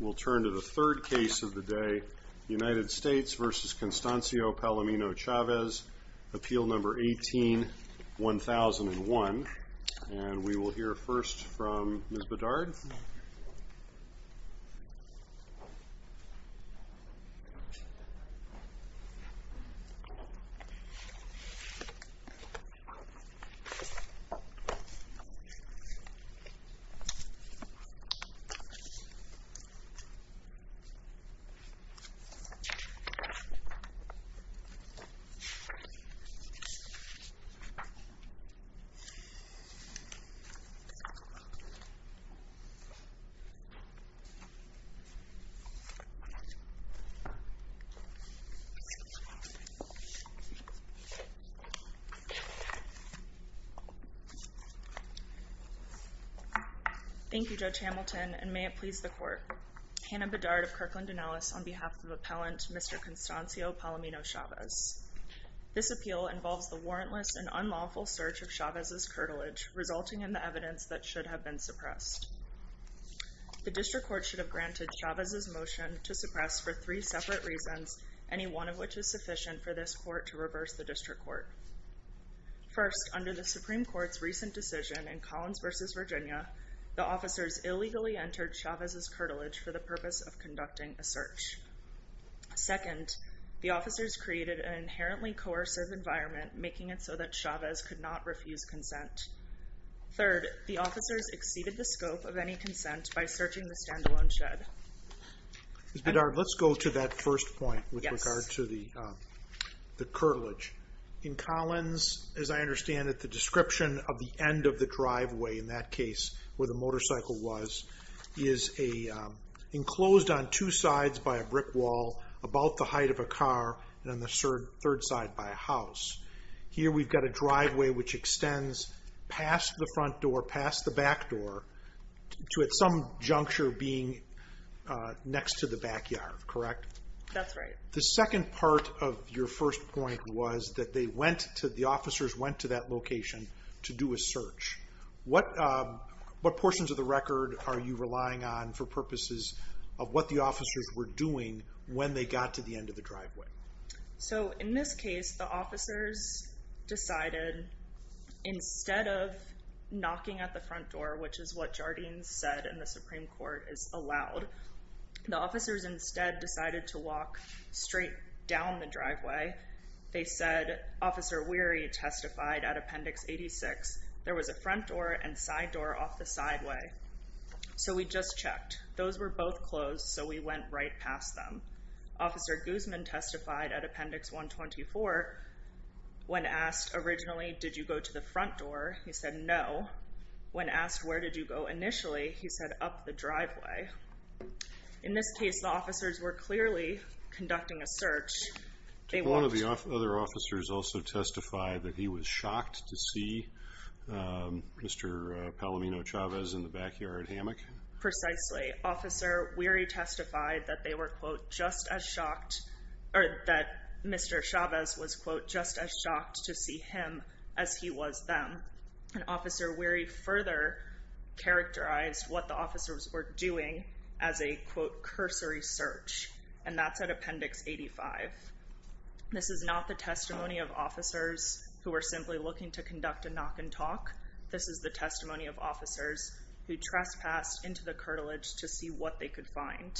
We'll turn to the third case of the day, United States v. Constancio Palomino-Chavez, Appeal No. 18-1001, and we will hear first from Ms. Bedard. Thank you, Judge Hamilton, and may it please the Court. Hannah Bedard of Kirkland & Ellis on behalf of Appellant Mr. Constancio Palomino-Chavez. This appeal involves the warrantless and unlawful search of Chavez's curtilage, resulting in the evidence that should have been suppressed. The District Court should have granted Chavez's motion to suppress for three separate reasons, any one of which is sufficient for this Court to reverse the District Court. First, under the Supreme Court's recent decision in Collins v. Virginia, the officers illegally entered Chavez's curtilage for the purpose of conducting a search. Second, the officers created an inherently coercive environment making it so that Chavez could not refuse consent. Third, the officers exceeded the scope of any consent by searching the standalone shed. Ms. Bedard, let's go to that first point with regard to the the curtilage. In Collins, as I understand it, the description of the end of the driveway, in that case where the motorcycle was, is enclosed on two sides by a brick wall, about the height of a car, and on the third side by a house. Here we've got a driveway which extends past the front door, past the back door, to at some juncture being next to the backyard, correct? That's right. The second part of your first point was that the officers went to that location to do a search. What portions of the record are you relying on for purposes of what the officers were doing when they got to the end of the driveway? So in this case, the officers decided instead of knocking at the front door, which is what Jardine said in the Supreme Court is allowed, the officers instead decided to walk straight down the driveway. They said, Officer Weary testified at Appendix 86, there was a front door and side door off the sideway. So we just checked. Those were both closed, so we went right past them. Officer Guzman testified at Appendix 124. When asked originally, did you go to the front door? He said no. When asked, where did you go initially? He said up the driveway. In this case, the officers were clearly conducting a search. One of the other officers also testified that he was shocked to see Mr. Palomino Chavez in the backyard hammock. Precisely. Officer Weary testified that they were, quote, just as shocked or that Mr. Chavez was, quote, just as shocked to see him as he was them. And Officer Weary further characterized what the officers were doing as a, quote, cursory search. And that's at Appendix 85. This is not the testimony of officers who are simply looking to conduct a knock and talk. This is the testimony of officers who trespassed into the curtilage to see what they could find.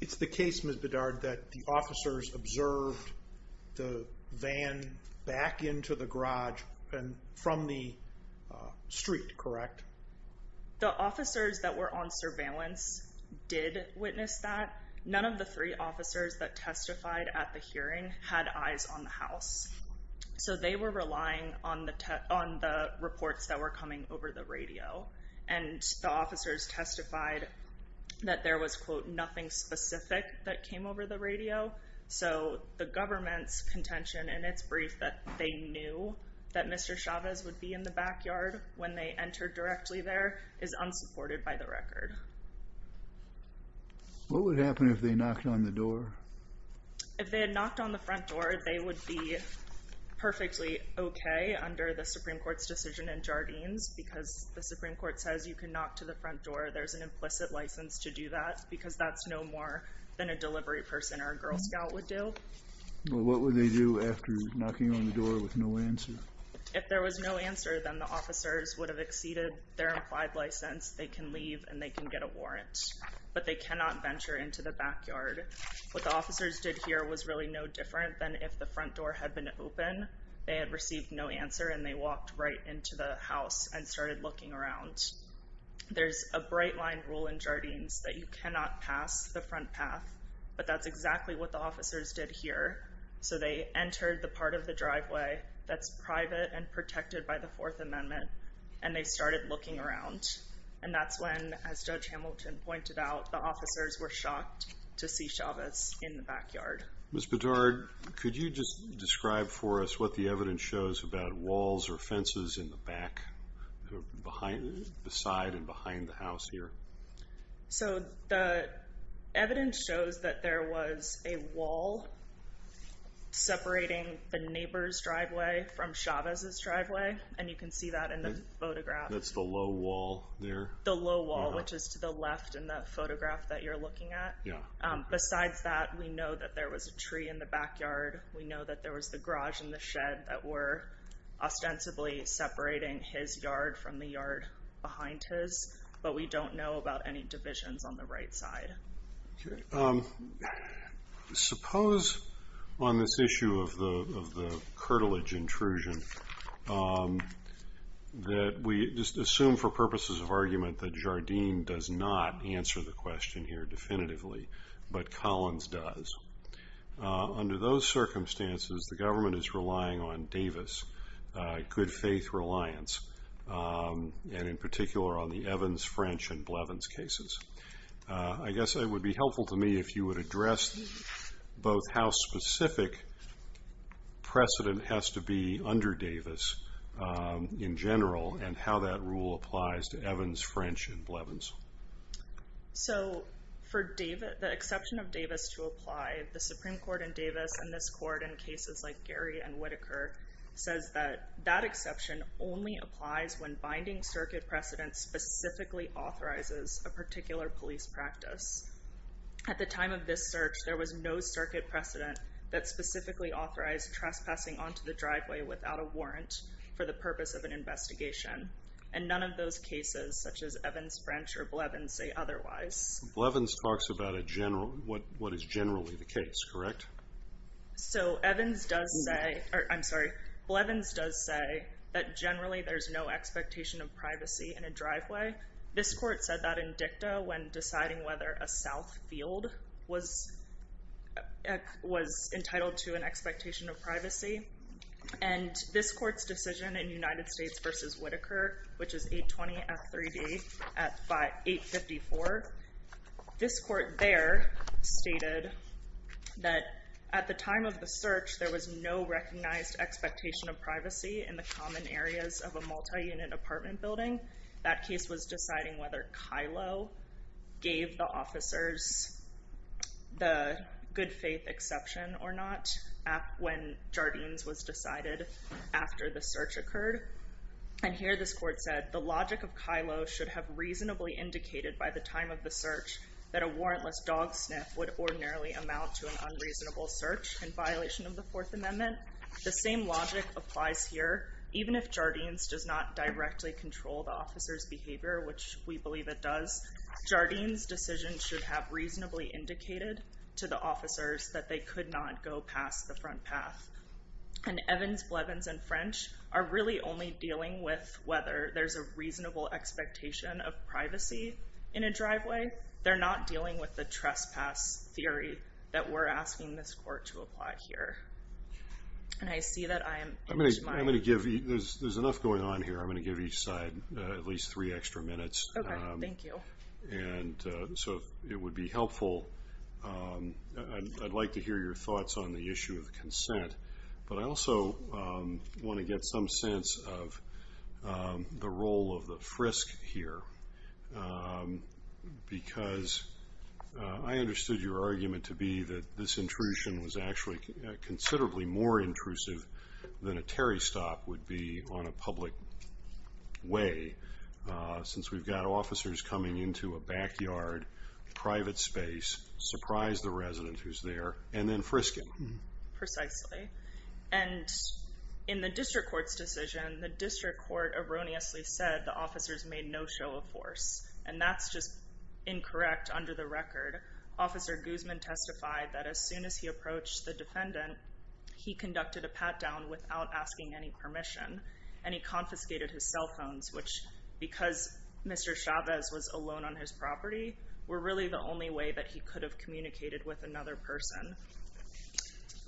It's the case, Ms. Bedard, that the officers observed the van back into the garage and from the street, correct? The officers that were on surveillance did witness that. None of the three officers that testified at the hearing had eyes on the house. So they were relying on the reports that were coming over the radio. And the officers testified that there was, quote, nothing specific that came over the radio. So the government's contention in its brief that they knew that Mr. Chavez would be in the backyard when they entered directly there is unsupported by the record. What would happen if they knocked on the door? If they were perfectly okay under the Supreme Court's decision in Jardines because the Supreme Court says you can knock to the front door, there's an implicit license to do that because that's no more than a delivery person or a Girl Scout would do. What would they do after knocking on the door with no answer? If there was no answer, then the officers would have exceeded their implied license. They can leave and they can get a warrant, but they cannot venture into the backyard. What the officers did here was really no different than if the front door had been open, they had received no answer and they walked right into the house and started looking around. There's a bright line rule in Jardines that you cannot pass the front path, but that's exactly what the officers did here. So they entered the part of the driveway that's private and protected by the Fourth Amendment and they started looking around. And that's when, as Judge Hamilton pointed out, the officers were shocked to see Chavez in the backyard. Ms. Bedard, could you just describe for us what the evidence shows about walls or fences in the back, the side and behind the house here? So the evidence shows that there was a wall separating the neighbor's driveway from Chavez's driveway, and you can see that in the photograph. That's the low wall there? The low wall, which is to the left in that photograph that you're a tree in the backyard. We know that there was the garage in the shed that were ostensibly separating his yard from the yard behind his, but we don't know about any divisions on the right side. Suppose on this issue of the curtilage intrusion that we just assume for purposes of argument that Jardines does not answer the question here definitively, but Collins does. Under those circumstances, the government is relying on Davis good faith reliance, and in particular on the Evans, French, and Blevins cases. I guess it would be helpful to me if you would address both how specific precedent has to be under Davis in general and how that rule applies to Evans, French, and Blevins. So for the exception of Davis to apply, the Supreme Court in Davis, and this court in cases like Gary and Whitaker, says that that exception only applies when binding circuit precedent specifically authorizes a particular police practice. At the time of this search, there was no circuit precedent that specifically authorized trespassing onto the driveway without a warrant for the purpose of an investigation, and none of those cases such as Evans, French, or Blevins say otherwise. Blevins talks about what what is generally the case, correct? So Evans does say, I'm sorry, Blevins does say that generally there's no expectation of privacy in a driveway. This court said that in dicta when deciding whether a south field was entitled to an expectation of privacy, and this court's decision in United States versus stated that at the time of the search, there was no recognized expectation of privacy in the common areas of a multi-unit apartment building. That case was deciding whether Kylo gave the officers the good faith exception or not when Jardines was decided after the search occurred. And here this court said, the logic of Kylo should have reasonably indicated by the time of the search that a warrantless dog sniff would ordinarily amount to an unreasonable search in violation of the Fourth Amendment. The same logic applies here. Even if Jardines does not directly control the officer's behavior, which we believe it does, Jardines' decision should have reasonably indicated to the officers that they could not go past the front path. And Evans, Blevins, and French are really only dealing with whether there's a reasonable expectation of privacy in a driveway. They're not dealing with the trespass theory that we're asking this court to apply here. And I see that I am... I'm going to give you, there's enough going on here, I'm going to give each side at least three extra minutes. Okay, thank you. And so it would be helpful. I'd like to hear your thoughts on the issue of consent, but I also want to get some sense of the role of the frisk here, because I understood your argument to be that this intrusion was actually considerably more intrusive than a Terry stop would be on a public way, since we've got officers coming into a backyard, private space, surprise the resident who's there, and then frisk him. Precisely. And in the district court's decision, the district court erroneously said the officers made no show of force, and that's just incorrect under the record. Officer Guzman testified that as soon as he approached the defendant, he conducted a pat-down without asking any permission, and he confiscated his cell phones, which, because Mr. Chavez was alone on his property, were really the only way that he could have communicated with another person.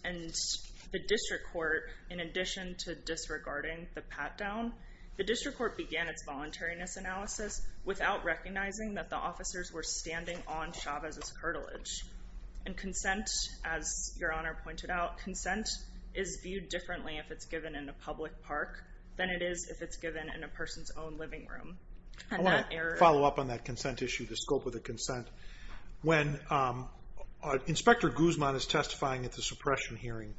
And the district court, in addition to disregarding the pat-down, the district court began its voluntariness analysis without recognizing that the officers were standing on Chavez's curtilage. And consent, as your honor pointed out, consent is viewed differently if it's given in a public park than it is if it's given in a person's own living room. I want to follow up on that consent issue, the scope of the consent. When Inspector Guzman is testifying at the suppression hearing,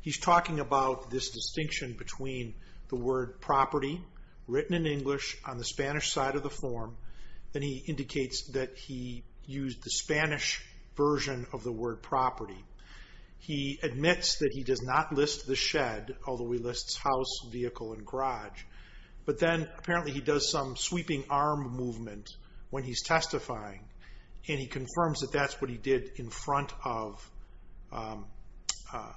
he's talking about this distinction between the word property, written in English, on the Spanish side of the form, and he indicates that he used the Spanish version of the word property. He admits that he does not list the shed, although he lists house, vehicle, and garage. But then apparently he does some sweeping arm movement when he's testifying, and he confirms that that's what he did in front of Mr.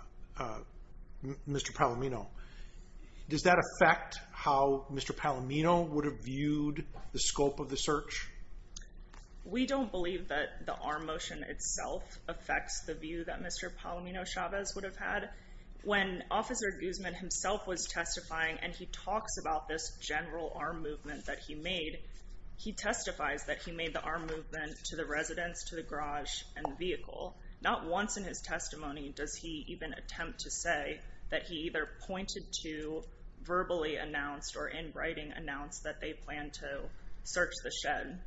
Palomino. Does that affect how Mr. Palomino would have viewed the scope of the search? We don't believe that the arm motion itself affects the view that Mr. Palomino Chavez would have had. When Officer Guzman himself was testifying, and he talks about this general arm movement that he made, he testifies that he made the arm movement to the residence, to the garage, and vehicle. Not once in his testimony does he even attempt to say that he either pointed to, verbally announced, or in writing announced that they plan to search the shed.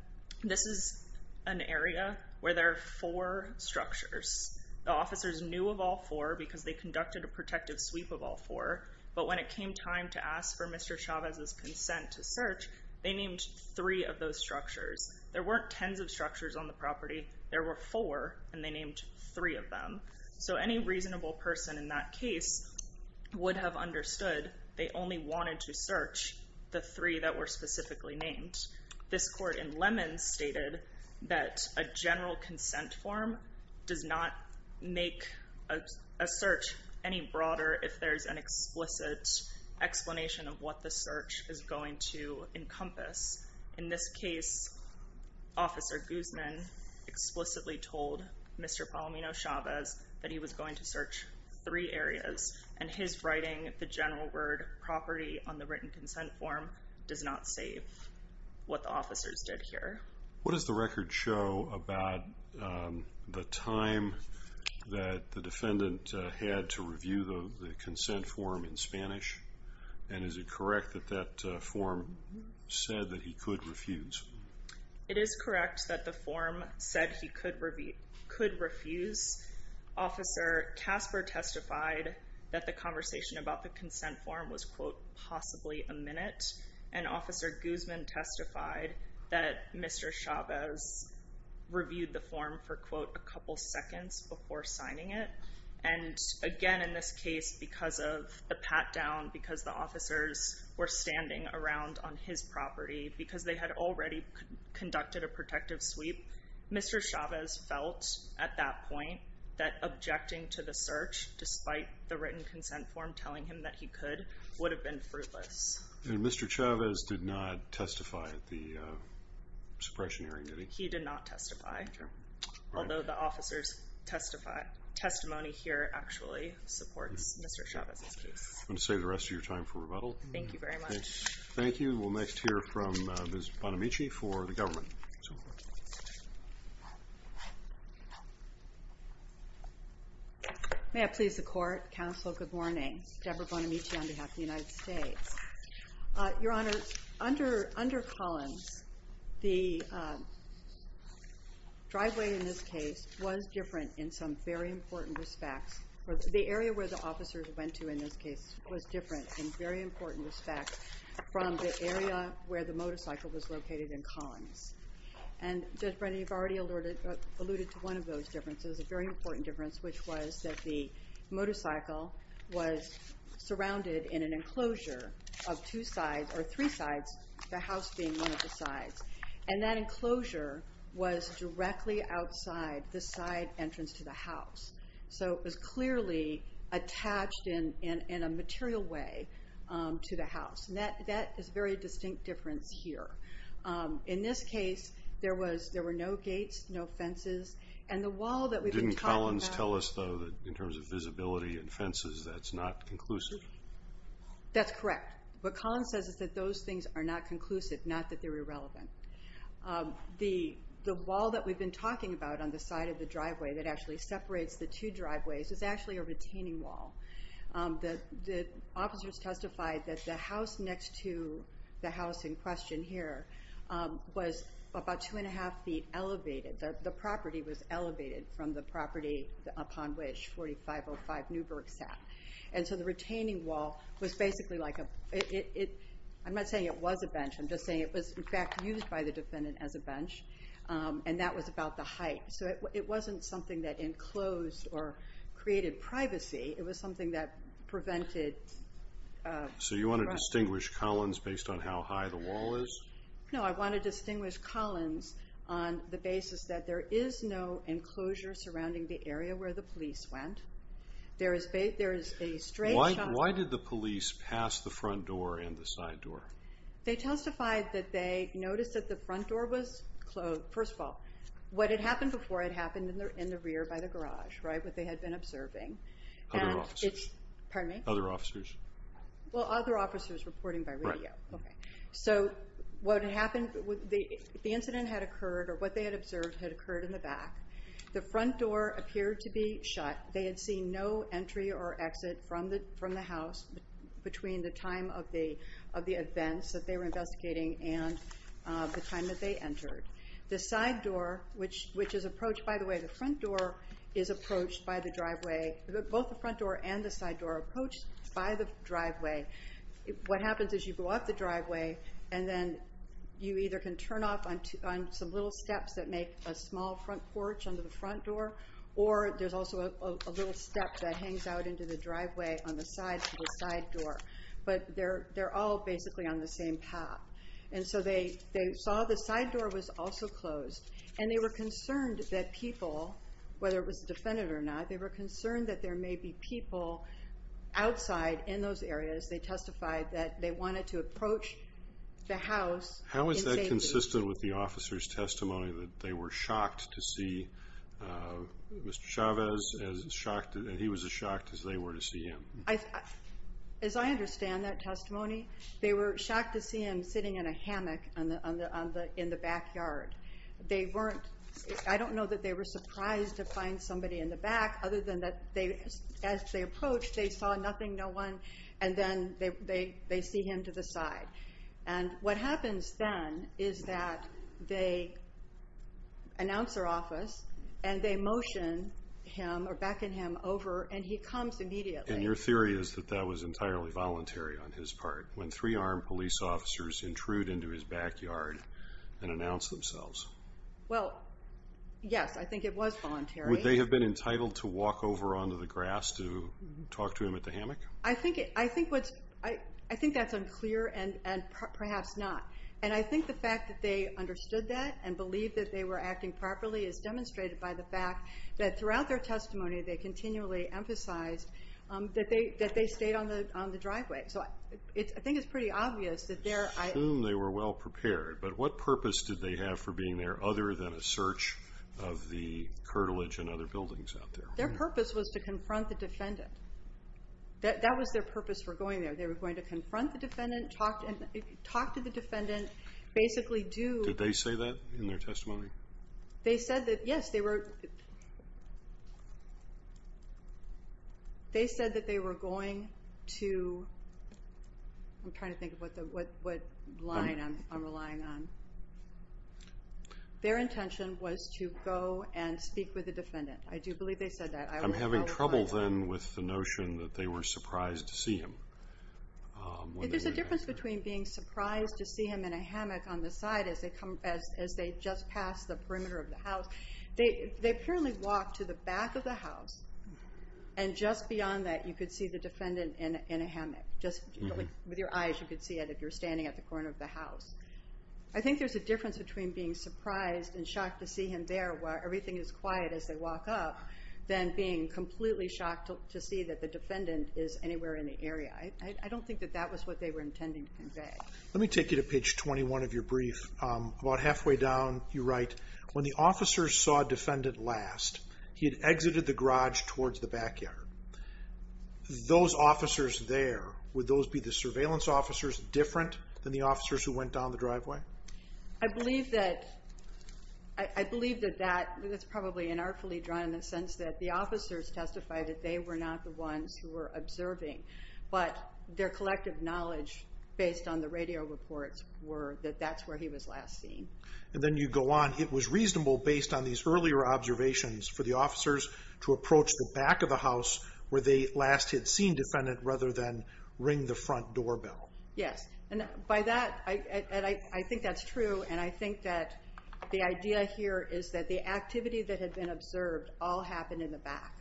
This is an area where there are four structures. The officers knew of all four because they conducted a protective sweep of all four, but when it came time to ask for Mr. Chavez's consent to search, they named three of those structures. There weren't tens of structures on the property. There were four, and they named three of them. So any reasonable person in that case would have understood they only wanted to search the three that were specifically named. This court in Lemons stated that a general consent form does not make a search any broader if there's an explicit explanation of what the search is going to encompass. In this case, Officer Guzman explicitly told Mr. Palomino Chavez that he was going to search three areas, and his writing the general word property on the written consent form does not say what the officers did here. The defendant had to review the consent form in Spanish, and is it correct that that form said that he could refuse? It is correct that the form said he could refuse. Officer Casper testified that the conversation about the consent form was, quote, possibly a minute, and Officer Guzman testified that Mr. Chavez reviewed the form for, quote, a couple seconds before signing it. And again, in this case, because of the pat-down, because the officers were standing around on his property, because they had already conducted a protective sweep, Mr. Chavez felt at that point that objecting to the search, despite the written consent form telling him that he could, would have been fruitless. And Mr. Chavez did not testify at the suppression hearing, did he? He did not testify, although the officer's testimony here actually supports Mr. Chavez's case. I'm going to save the rest of your time for rebuttal. Thank you very much. Thank you. We'll next hear from Ms. Bonamici for the government. May I please the Court? Counsel, good morning. Deborah Bonamici on behalf of the United States. Your Honor, under Collins, the case was different in some very important respects. The area where the officers went to in this case was different in very important respects from the area where the motorcycle was located in Collins. And Judge Brennan, you've already alluded to one of those differences, a very important difference, which was that the motorcycle was surrounded in an enclosure of two sides, or three sides, the house being one of the sides. And that enclosure was directly outside the side entrance to the house. So it was clearly attached in a material way to the house. And that is a very distinct difference here. In this case, there were no gates, no fences, and the wall that we've been talking about... Didn't Collins tell us though, in terms of visibility and fences, that's not conclusive? That's correct. What Collins says is that those things are not conclusive, not that they're not. The wall that we've been talking about on the side of the driveway that actually separates the two driveways is actually a retaining wall. The officers testified that the house next to the house in question here was about two and a half feet elevated. The property was elevated from the property upon which 4505 Newburgh sat. And so the retaining wall was basically like a... I'm not saying it was a bench, I'm just saying it was, in fact, used by the defendant as a bench. And that was about the height. So it wasn't something that enclosed or created privacy, it was something that prevented... So you wanna distinguish Collins based on how high the wall is? No, I wanna distinguish Collins on the basis that there is no enclosure surrounding the area where the police went. There is a straight... Why did the police pass the front door and the side door? They testified that they noticed that the front door was closed. First of all, what had happened before had happened in the rear by the garage, what they had been observing. Other officers. Pardon me? Other officers. Well, other officers reporting by radio. Right. Okay. So what had happened... The incident had occurred, or what they had observed, had occurred in the back. The front door appeared to be shut. They had seen no entry or exit from the house between the time of the events that they were investigating and the time that they entered. The side door, which is approached by the way, the front door is approached by the driveway. Both the front door and the side door are approached by the driveway. What happens is you go off the driveway and then you either can turn off on some little steps that make a small front porch under the front door, or there's also a little step that hangs out into the driveway on the side to the side door. But they're all basically on the same path. And so they saw the side door was also closed and they were concerned that people, whether it was a defendant or not, they were concerned that there may be people outside in those areas. They testified that they wanted to approach the house in safety. How is that consistent with the officer's testimony that they were Mr. Chavez, and he was as shocked as they were to see him? As I understand that testimony, they were shocked to see him sitting in a hammock in the backyard. They weren't... I don't know that they were surprised to find somebody in the back, other than that as they approached, they saw nothing, no one, and then they see him to the side. And what happens then is that they announce their office and they motion him or beckon him over and he comes immediately. And your theory is that that was entirely voluntary on his part, when three armed police officers intrude into his backyard and announce themselves. Well, yes, I think it was voluntary. Would they have been entitled to walk over onto the grass to talk to him at the hammock? I think that's unclear and perhaps not. And I think the fact that they understood that and believed that they were acting properly is demonstrated by the fact that throughout their testimony, they continually emphasized that they stayed on the driveway. So I think it's pretty obvious that there... I assume they were well prepared, but what purpose did they have for being there, other than a search of the curtilage and other buildings out there? Their purpose was to confront the defendant. That was their purpose for going there. They were going to confront the defendant, talk to the defendant, basically do... Did they say that in their testimony? They said that, yes, they were... They said that they were going to... I'm trying to think of what line I'm relying on. Their intention was to go and speak with the defendant. I do believe they said that. I'm having trouble, then, with the notion that they were surprised to see him. If there's a difference between being surprised to see him in a hammock, as they just passed the perimeter of the house... They apparently walked to the back of the house, and just beyond that, you could see the defendant in a hammock. Just with your eyes, you could see it if you're standing at the corner of the house. I think there's a difference between being surprised and shocked to see him there, where everything is quiet as they walk up, than being completely shocked to see that the defendant is anywhere in the area. I don't think that that was what they were intending to convey. Let me take you to page 21 of your lay down. You write, when the officers saw defendant last, he had exited the garage towards the backyard. Those officers there, would those be the surveillance officers different than the officers who went down the driveway? I believe that... I believe that that's probably inartfully drawn in the sense that the officers testified that they were not the ones who were observing, but their collective knowledge, based on the radio reports, were that that's where he was last seen. And then you go on, it was reasonable, based on these earlier observations, for the officers to approach the back of the house where they last had seen defendant, rather than ring the front doorbell. Yes. And by that, and I think that's true, and I think that the idea here is that the activity that had been observed all happened in the back.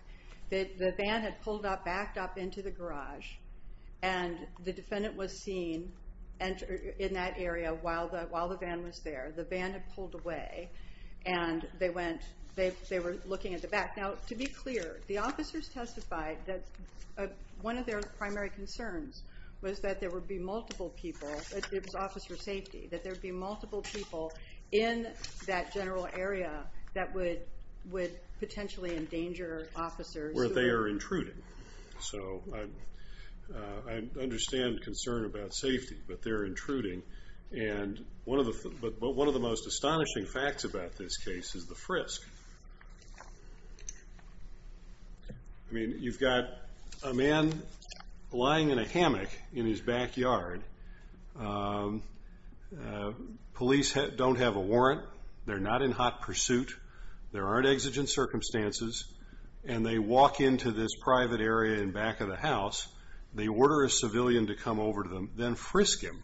The van had pulled up, backed up into the garage, and the defendant was seen in that area while the van was there. The van had pulled away, and they went, they were looking at the back. Now, to be clear, the officers testified that one of their primary concerns was that there would be multiple people, it was officer safety, that there would be multiple people in that general area that would potentially endanger officers... Where they are intruding. So I understand concern about safety, but they're intruding. And one of the most astonishing facts about this case is the frisk. I mean, you've got a man lying in a hammock in his backyard. Police don't have a warrant. They're not in hot pursuit. There aren't exigent circumstances, and they walk into this private area in back of the house. They order a civilian to come over to them, then frisk him.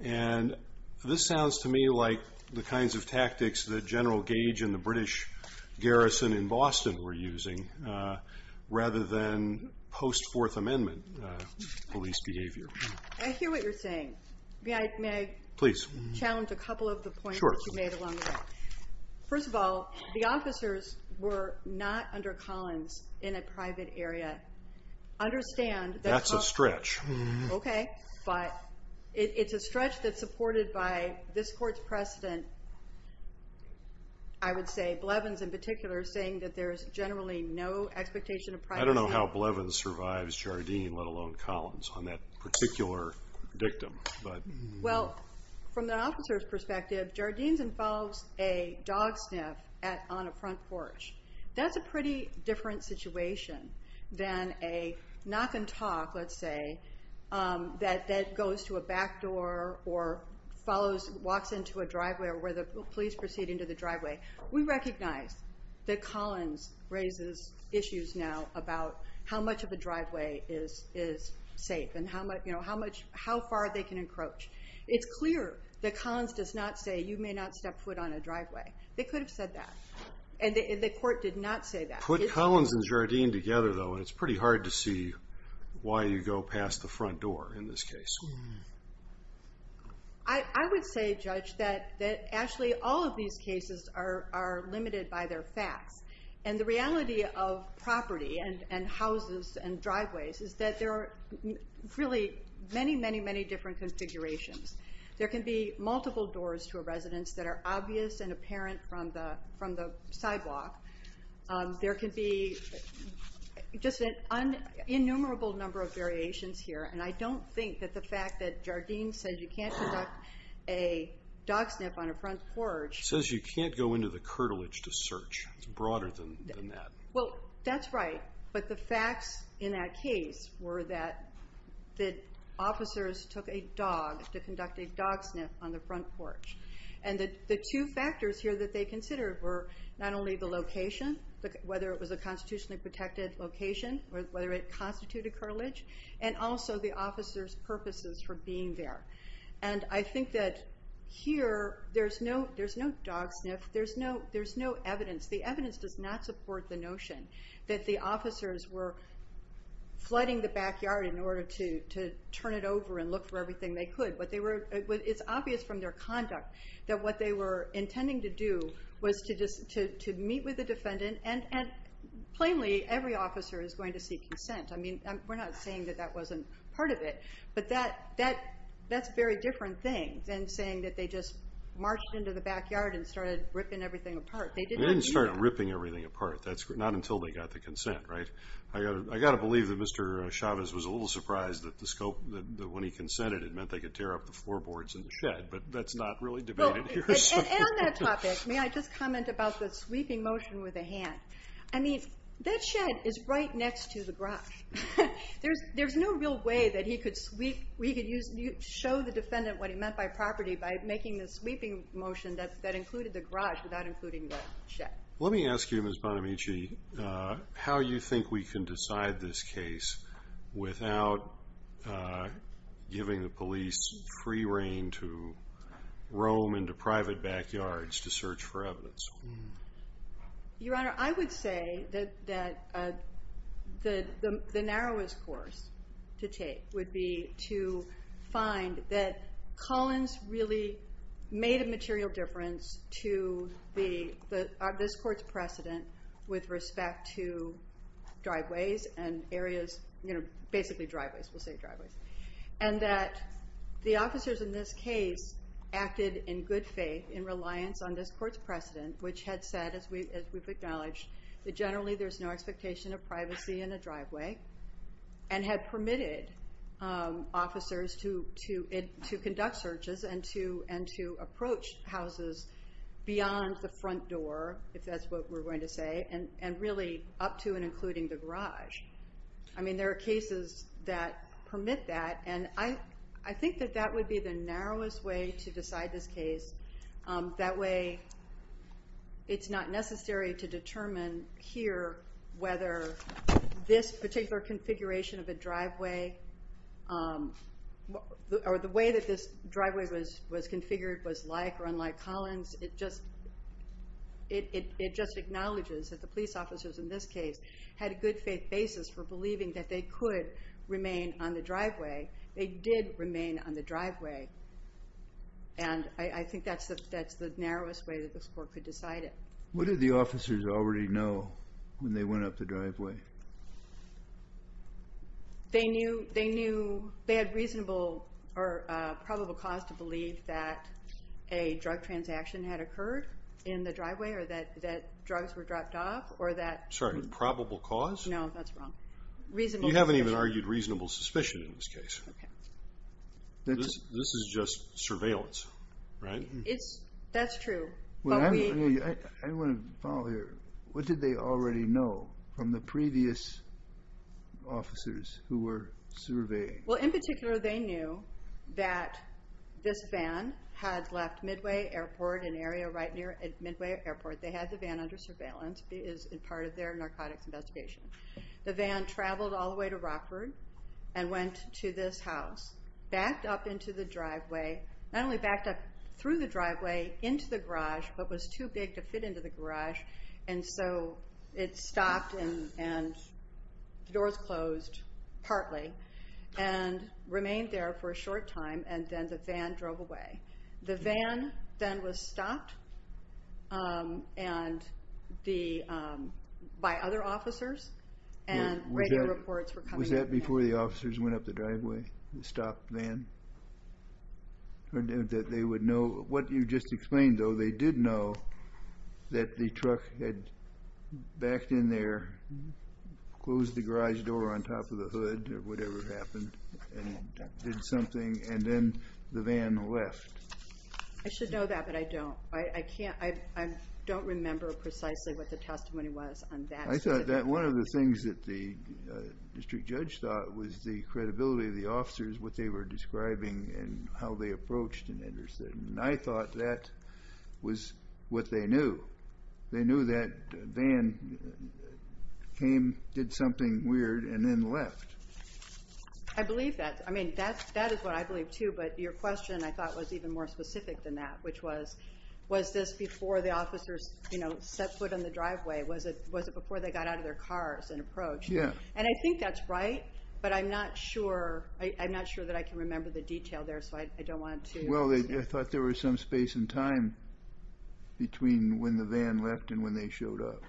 And this sounds to me like the kinds of tactics that General Gage and the British garrison in Boston were using, rather than post Fourth Amendment police behavior. I hear what you're saying. May I... Please. Challenge a couple of the points you made along the way. First of all, the officers were not under Collins in a private area. Understand that... That's a stretch. Okay. But it's a stretch that's supported by this court's precedent. I would say Blevins in particular, saying that there's generally no expectation of privacy. I don't know how Blevins survives Jardine, let alone Collins, on that particular victim. Well, from the officer's perspective, Jardine's involves a dog sniff on a front porch. That's a pretty different situation than a knock and talk, let's say, that goes to a back door, or follows... Walks into a driveway, or where the police proceed into the driveway. We recognize that Collins raises issues now about how much of a driveway is safe, and how much... How far they can encroach. It's clear that Collins does not say, you may not step foot on a driveway. They could have said that, and the court did not say that. Put Collins and Jardine together, though, it's pretty hard to see why you go past the front door in this case. I would say, Judge, that actually all of these cases are limited by their facts. And the reality of property, and houses, and driveways, is that there are really many, many, many different configurations. There can be multiple doors to a residence that are obvious and apparent from the sidewalk. There can be just an innumerable number of variations here. And I don't think that the fact that Jardine said you can't conduct a dog sniff on a front porch... Says you can't go into the curtilage to search. It's broader than that. Well, that's right. But the facts in that case were that the officers took a dog to conduct a dog sniff on the front porch. And the two factors here that they considered were not only the location, whether it was a constitutionally protected location, or whether it constituted curtilage, and also the officer's purposes for being there. And I think that here, there's no dog sniff. There's no evidence. The evidence does not support the notion that the officers were flooding the backyard in order to turn it over and look for everything they could. But it's obvious from their conduct that what they were intending to do was to meet with the defendant. And plainly, every officer is going to seek consent. I mean, we're not saying that that wasn't part of it. But that's a very different thing than saying that they just marched into the backyard and started ripping everything apart. They didn't start ripping everything apart. That's not until they got the consent, right? I got to believe that Mr. Chavez was a little surprised that the scope, that when he consented, it meant they could tear up the floorboards and the shed. But that's not really debated here. And on that topic, may I just comment about the sweeping motion with a hand? I mean, that shed is right next to the garage. There's no real way that he could sweep. We could show the defendant what he meant by property by making the sweeping motion that included the garage without including the shed. Let me ask you, Ms. Bonamici, how you think we can decide this case without giving the police free reign to roam into private backyards to search for evidence? Your Honor, I would say that the narrowest course to take would be to say that Collins really made a material difference to this court's precedent with respect to driveways and areas, you know, basically driveways, we'll say driveways. And that the officers in this case acted in good faith in reliance on this court's precedent, which had said, as we've acknowledged, that generally there's no expectation of privacy in a driveway and had permitted officers to conduct searches and to approach houses beyond the front door, if that's what we're going to say, and really up to and including the garage. I mean, there are cases that permit that. And I think that that would be the narrowest way to decide this case. That way, it's not necessary to determine here whether this particular configuration of a driveway or the way that this driveway was configured was like or unlike Collins. It just acknowledges that the police officers in this case had a good faith basis for believing that they could remain on the driveway. They did remain on the driveway. And I think that's the narrowest way that this court could decide it. What did the officers already know when they went up the driveway? They knew they had reasonable or probable cause to believe that a drug transaction had occurred in the driveway or that drugs were dropped off or that... Sorry, probable cause? No, that's wrong. Reasonable suspicion. You haven't even argued reasonable suspicion in this case. This is just surveillance, right? That's true. I want to follow here. What did they already know from the previous officers who were surveying? Well, in particular, they knew that this van had left Midway Airport, an area right near Midway Airport. They had the van under surveillance as part of their narcotics investigation. The van traveled all the way to Rockford and went to this house, backed up into the driveway, not only backed up through the driveway, into the garage, but was too big to fit into the garage. And so it stopped and the doors closed, partly, and remained there for a short time, and then the van drove away. The van then was stopped by other officers, and radio reports were coming in. Was that before the officers went up the driveway, the stopped van? Or that they would know... What you just explained, though, they did know that the truck had backed in there, closed the garage door on top of the hood or whatever happened, and did something, and then the van left. I should know that, but I don't. I can't. I don't remember precisely what the testimony was on that. I thought that one of the things that the district judge thought was the credibility of the officers, what they were describing, and how they approached and understood. And I thought that was what they knew. They knew that van came, did something weird, and then left. I believe that. I mean, that is what I believe, too, but your question, I thought, was even more specific than that, which was, was this before the officers set foot in the driveway? Was it before they got out of their cars and approached? Yeah. And I think that's right, but I'm not sure that I can remember the detail there, so I don't want to... Well, I thought there was some space and time between when the van left and when they showed up.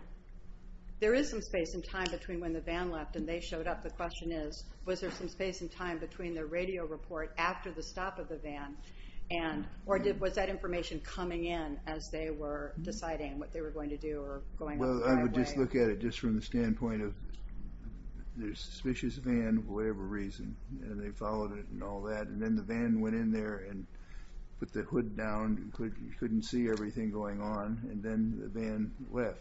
There is some space and time between when the van left and they showed up. The question is, was there some space and time between the radio report after the stop of the van or was that information coming in as they were deciding what they were going to do or going up the driveway? Well, I would just look at it just from the standpoint of there's a suspicious van for whatever reason, and they followed it and all that, and then the van went in there and put the hood down, couldn't see everything going on, and then the van left.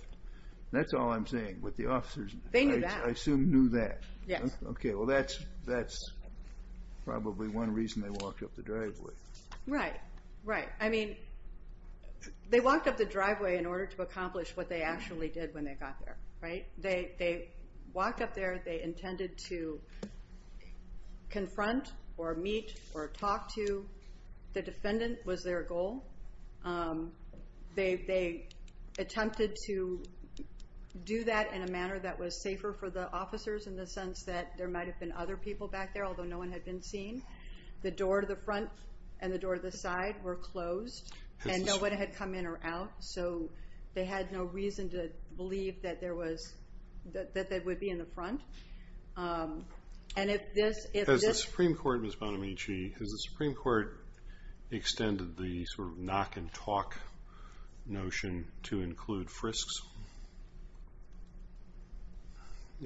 That's all I'm saying, with the officers. They knew that. Yes. Okay, well, that's probably one reason they walked up the driveway. Right, right. I mean, they walked up the driveway in order to accomplish what they actually did when they got there, right? They walked up there, they intended to confront or meet or talk to. The defendant was their goal. They attempted to do that in a manner that was safer for the officers in the sense that there might have been other people back there, although no one had been seen. The door to the front and the door to the side were closed, and no one had come in or out, so they had no reason to believe that they would be in the front. Has the Supreme Court, Ms. Bonamici, has the Supreme Court extended the sort of knock and talk notion to include frisks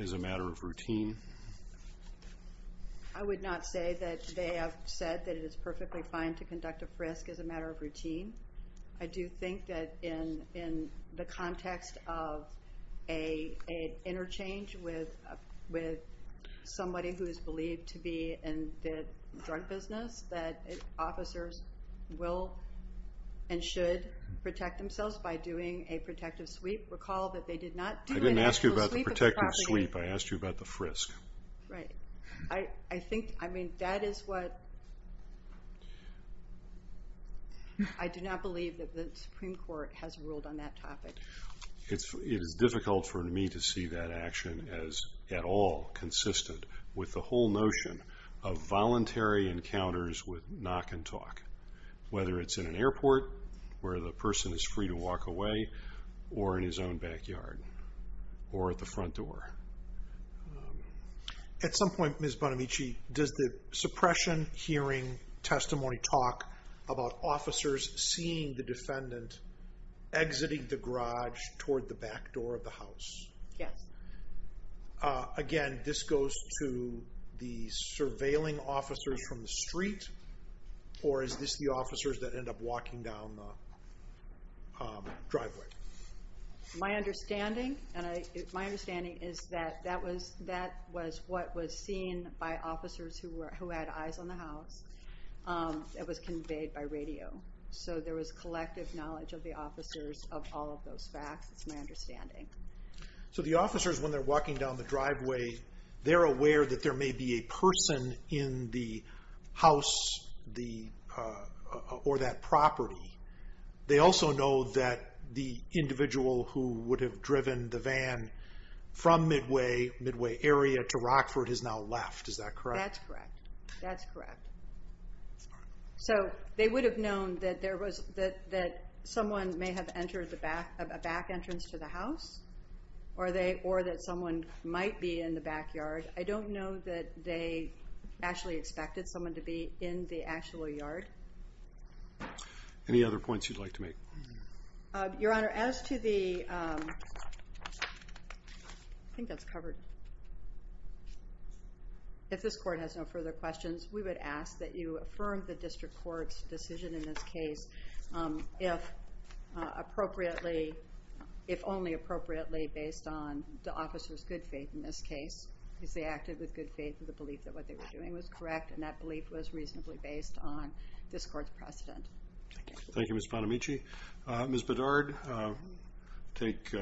as a matter of routine? I would not say that they have said that it is perfectly fine to conduct a frisk as a matter of routine. I do think that in the context of an interchange with somebody who is believed to be in the drug business, that officers will and should protect themselves by doing a protective sweep. Recall that they did not do an actual sweep of the property. I didn't ask you about the protective sweep. I asked you about the frisk. Right. I think, I mean, that is what, I do not believe that the Supreme Court has ruled on that topic. It is difficult for me to see that action as at all consistent with the whole notion of voluntary encounters with knock and talk, whether it is in an airport where the person is free to walk away or in his own backyard or at the front door. At some point, Ms. Bonamici, does the suppression hearing testimony talk about officers seeing the defendant exiting the garage toward the back door of the house? Yes. Again, this goes to the surveilling officers from the street, or is this the officers that end up walking down the driveway? My understanding, and my understanding is that that was what was seen by officers who had eyes on the house. It was conveyed by radio. So there was collective knowledge of the officers of all of those facts, is my understanding. So the officers, when they're walking down the driveway, they're aware that there may be a person in the house or that property. They also know that the individual who would have driven the van from Midway area to Rockford has now left, is that correct? That's correct. That's correct. So they would have known that someone may have entered a back entrance to the house, or that someone might be in the backyard. I don't know that they actually expected someone to be in the actual yard. Any other points you'd like to make? Your Honor, as to the – I think that's covered. If this Court has no further questions, we would ask that you affirm the district court's decision in this case if only appropriately based on the officers' good faith in this case, because they acted with good faith in the belief that what they were doing was correct, and that belief was reasonably based on this Court's precedent. Thank you, Ms. Bonamici. Ms. Bedard, take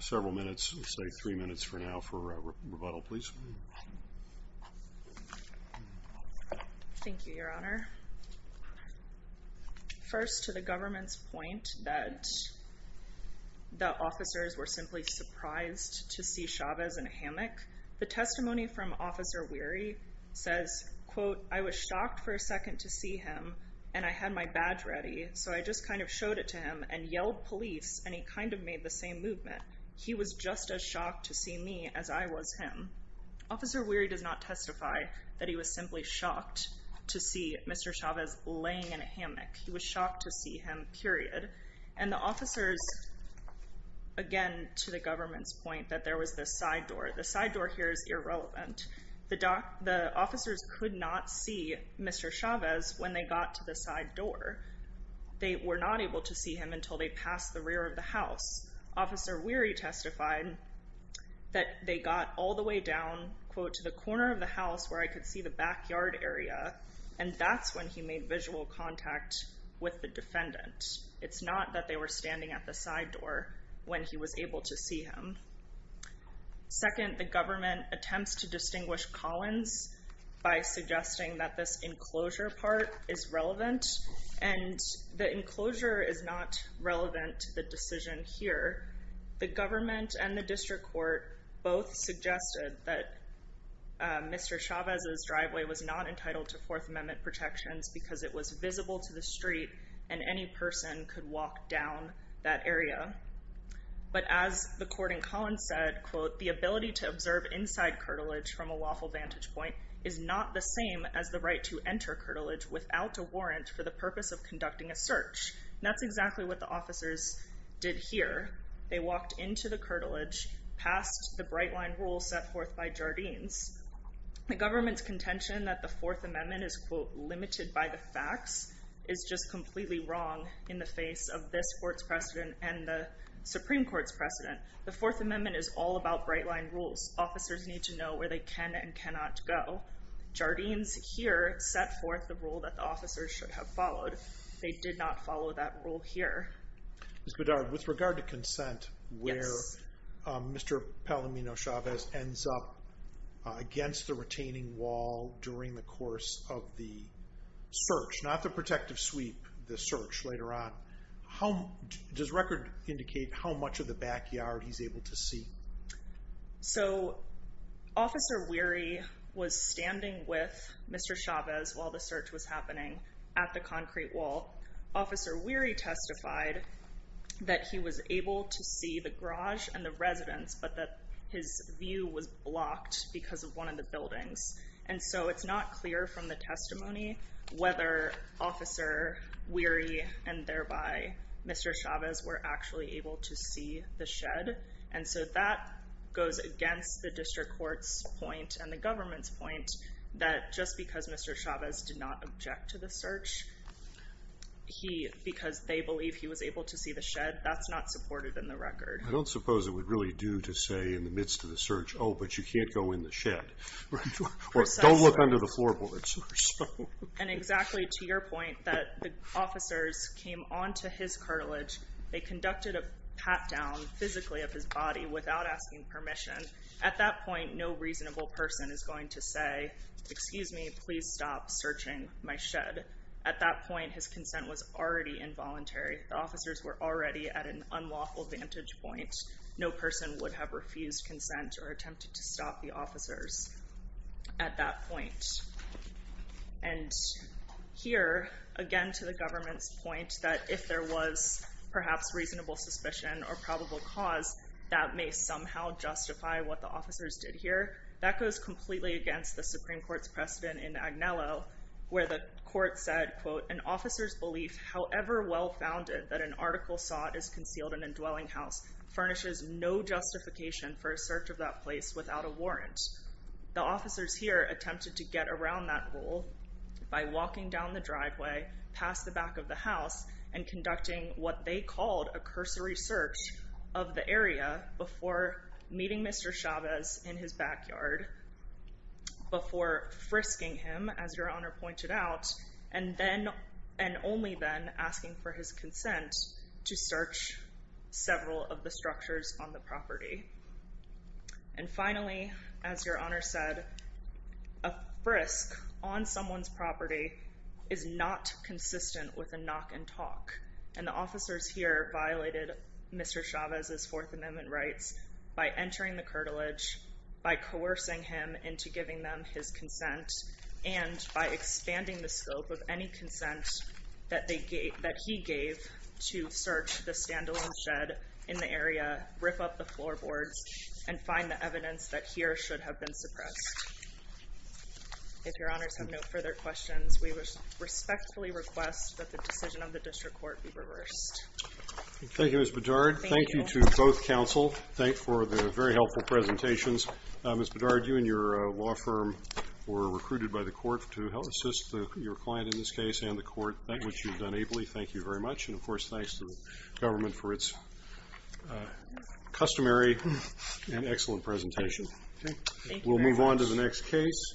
several minutes, say three minutes for now, for rebuttal, please. Thank you, Your Honor. First, to the government's point that the officers were simply surprised to see Chavez in a hammock, the testimony from Officer Weary says, quote, I was shocked for a second to see him, and I had my badge ready, so I just kind of showed it to him and yelled police, and he kind of made the same movement. He was just as shocked to see me as I was him. Officer Weary does not testify that he was simply shocked to see Mr. Chavez laying in a hammock. He was shocked to see him, period. And the officers, again, to the government's point, that there was this side door. The side door here is irrelevant. The officers could not see Mr. Chavez when they got to the side door. Officer Weary testified that they got all the way down, quote, to the corner of the house where I could see the backyard area, and that's when he made visual contact with the defendant. It's not that they were standing at the side door when he was able to see him. Second, the government attempts to distinguish Collins by suggesting that this enclosure part is relevant, and the enclosure is not relevant to the decision here. The government and the district court both suggested that Mr. Chavez's driveway was not entitled to Fourth Amendment protections because it was visible to the street, and any person could walk down that area. But as the court in Collins said, quote, the ability to observe inside curtilage from a lawful vantage point for the purpose of conducting a search, and that's exactly what the officers did here. They walked into the curtilage, passed the bright-line rule set forth by Jardines. The government's contention that the Fourth Amendment is, quote, limited by the facts is just completely wrong in the face of this court's precedent and the Supreme Court's precedent. The Fourth Amendment is all about bright-line rules. Officers need to know where they can and cannot go. Jardines here set forth the rule that the officers should have followed. They did not follow that rule here. Ms. Bedard, with regard to consent, where Mr. Palamino-Chavez ends up against the retaining wall during the course of the search, not the protective sweep, the search later on, does record indicate how much of the backyard he's able to see? So Officer Weary was standing with Mr. Chavez while the search was happening at the concrete wall. Officer Weary testified that he was able to see the garage and the residence, but that his view was blocked because of one of the buildings. And so it's not clear from the testimony whether Officer Weary and thereby goes against the district court's point and the government's point that just because Mr. Chavez did not object to the search, because they believe he was able to see the shed, that's not supported in the record. I don't suppose it would really do to say in the midst of the search, oh, but you can't go in the shed. Or don't look under the floorboards. And exactly to your point that the officers came on to his cartilage. They conducted a pat-down physically of his body without asking permission. At that point, no reasonable person is going to say, excuse me, please stop searching my shed. At that point, his consent was already involuntary. The officers were already at an unlawful vantage point. No person would have refused consent or attempted to stop the officers at that point. And here, again, to the government's point that if there was perhaps reasonable suspicion or probable cause, that may somehow justify what the officers did here, that goes completely against the Supreme Court's precedent in Agnello, where the court said, quote, an officer's belief, however well-founded, that an article sought is concealed in a dwelling house, furnishes no justification for a search of that place without a warrant. The officers here attempted to get around that rule by walking down the driveway, past the back of the house, and conducting what they called a cursory search of the area before meeting Mr. Chavez in his backyard, before frisking him, as Your Honor pointed out, and only then asking for his consent to search several of the structures on the property. And finally, as Your Honor said, a frisk on someone's property is not consistent with a knock and talk. And the officers here violated Mr. Chavez's Fourth Amendment rights by entering the curtilage, by coercing him into giving them his consent, and by expanding the scope of any consent that he gave to search the floorboards and find the evidence that here should have been suppressed. If Your Honors have no further questions, we respectfully request that the decision of the district court be reversed. Thank you, Ms. Bedard. Thank you to both counsel for the very helpful presentations. Ms. Bedard, you and your law firm were recruited by the court to help assist your client in this case and the court, which you've done ably. Thank you very much. And, of course, thanks to the government for its customary and excellent presentation. We'll move on to the next case.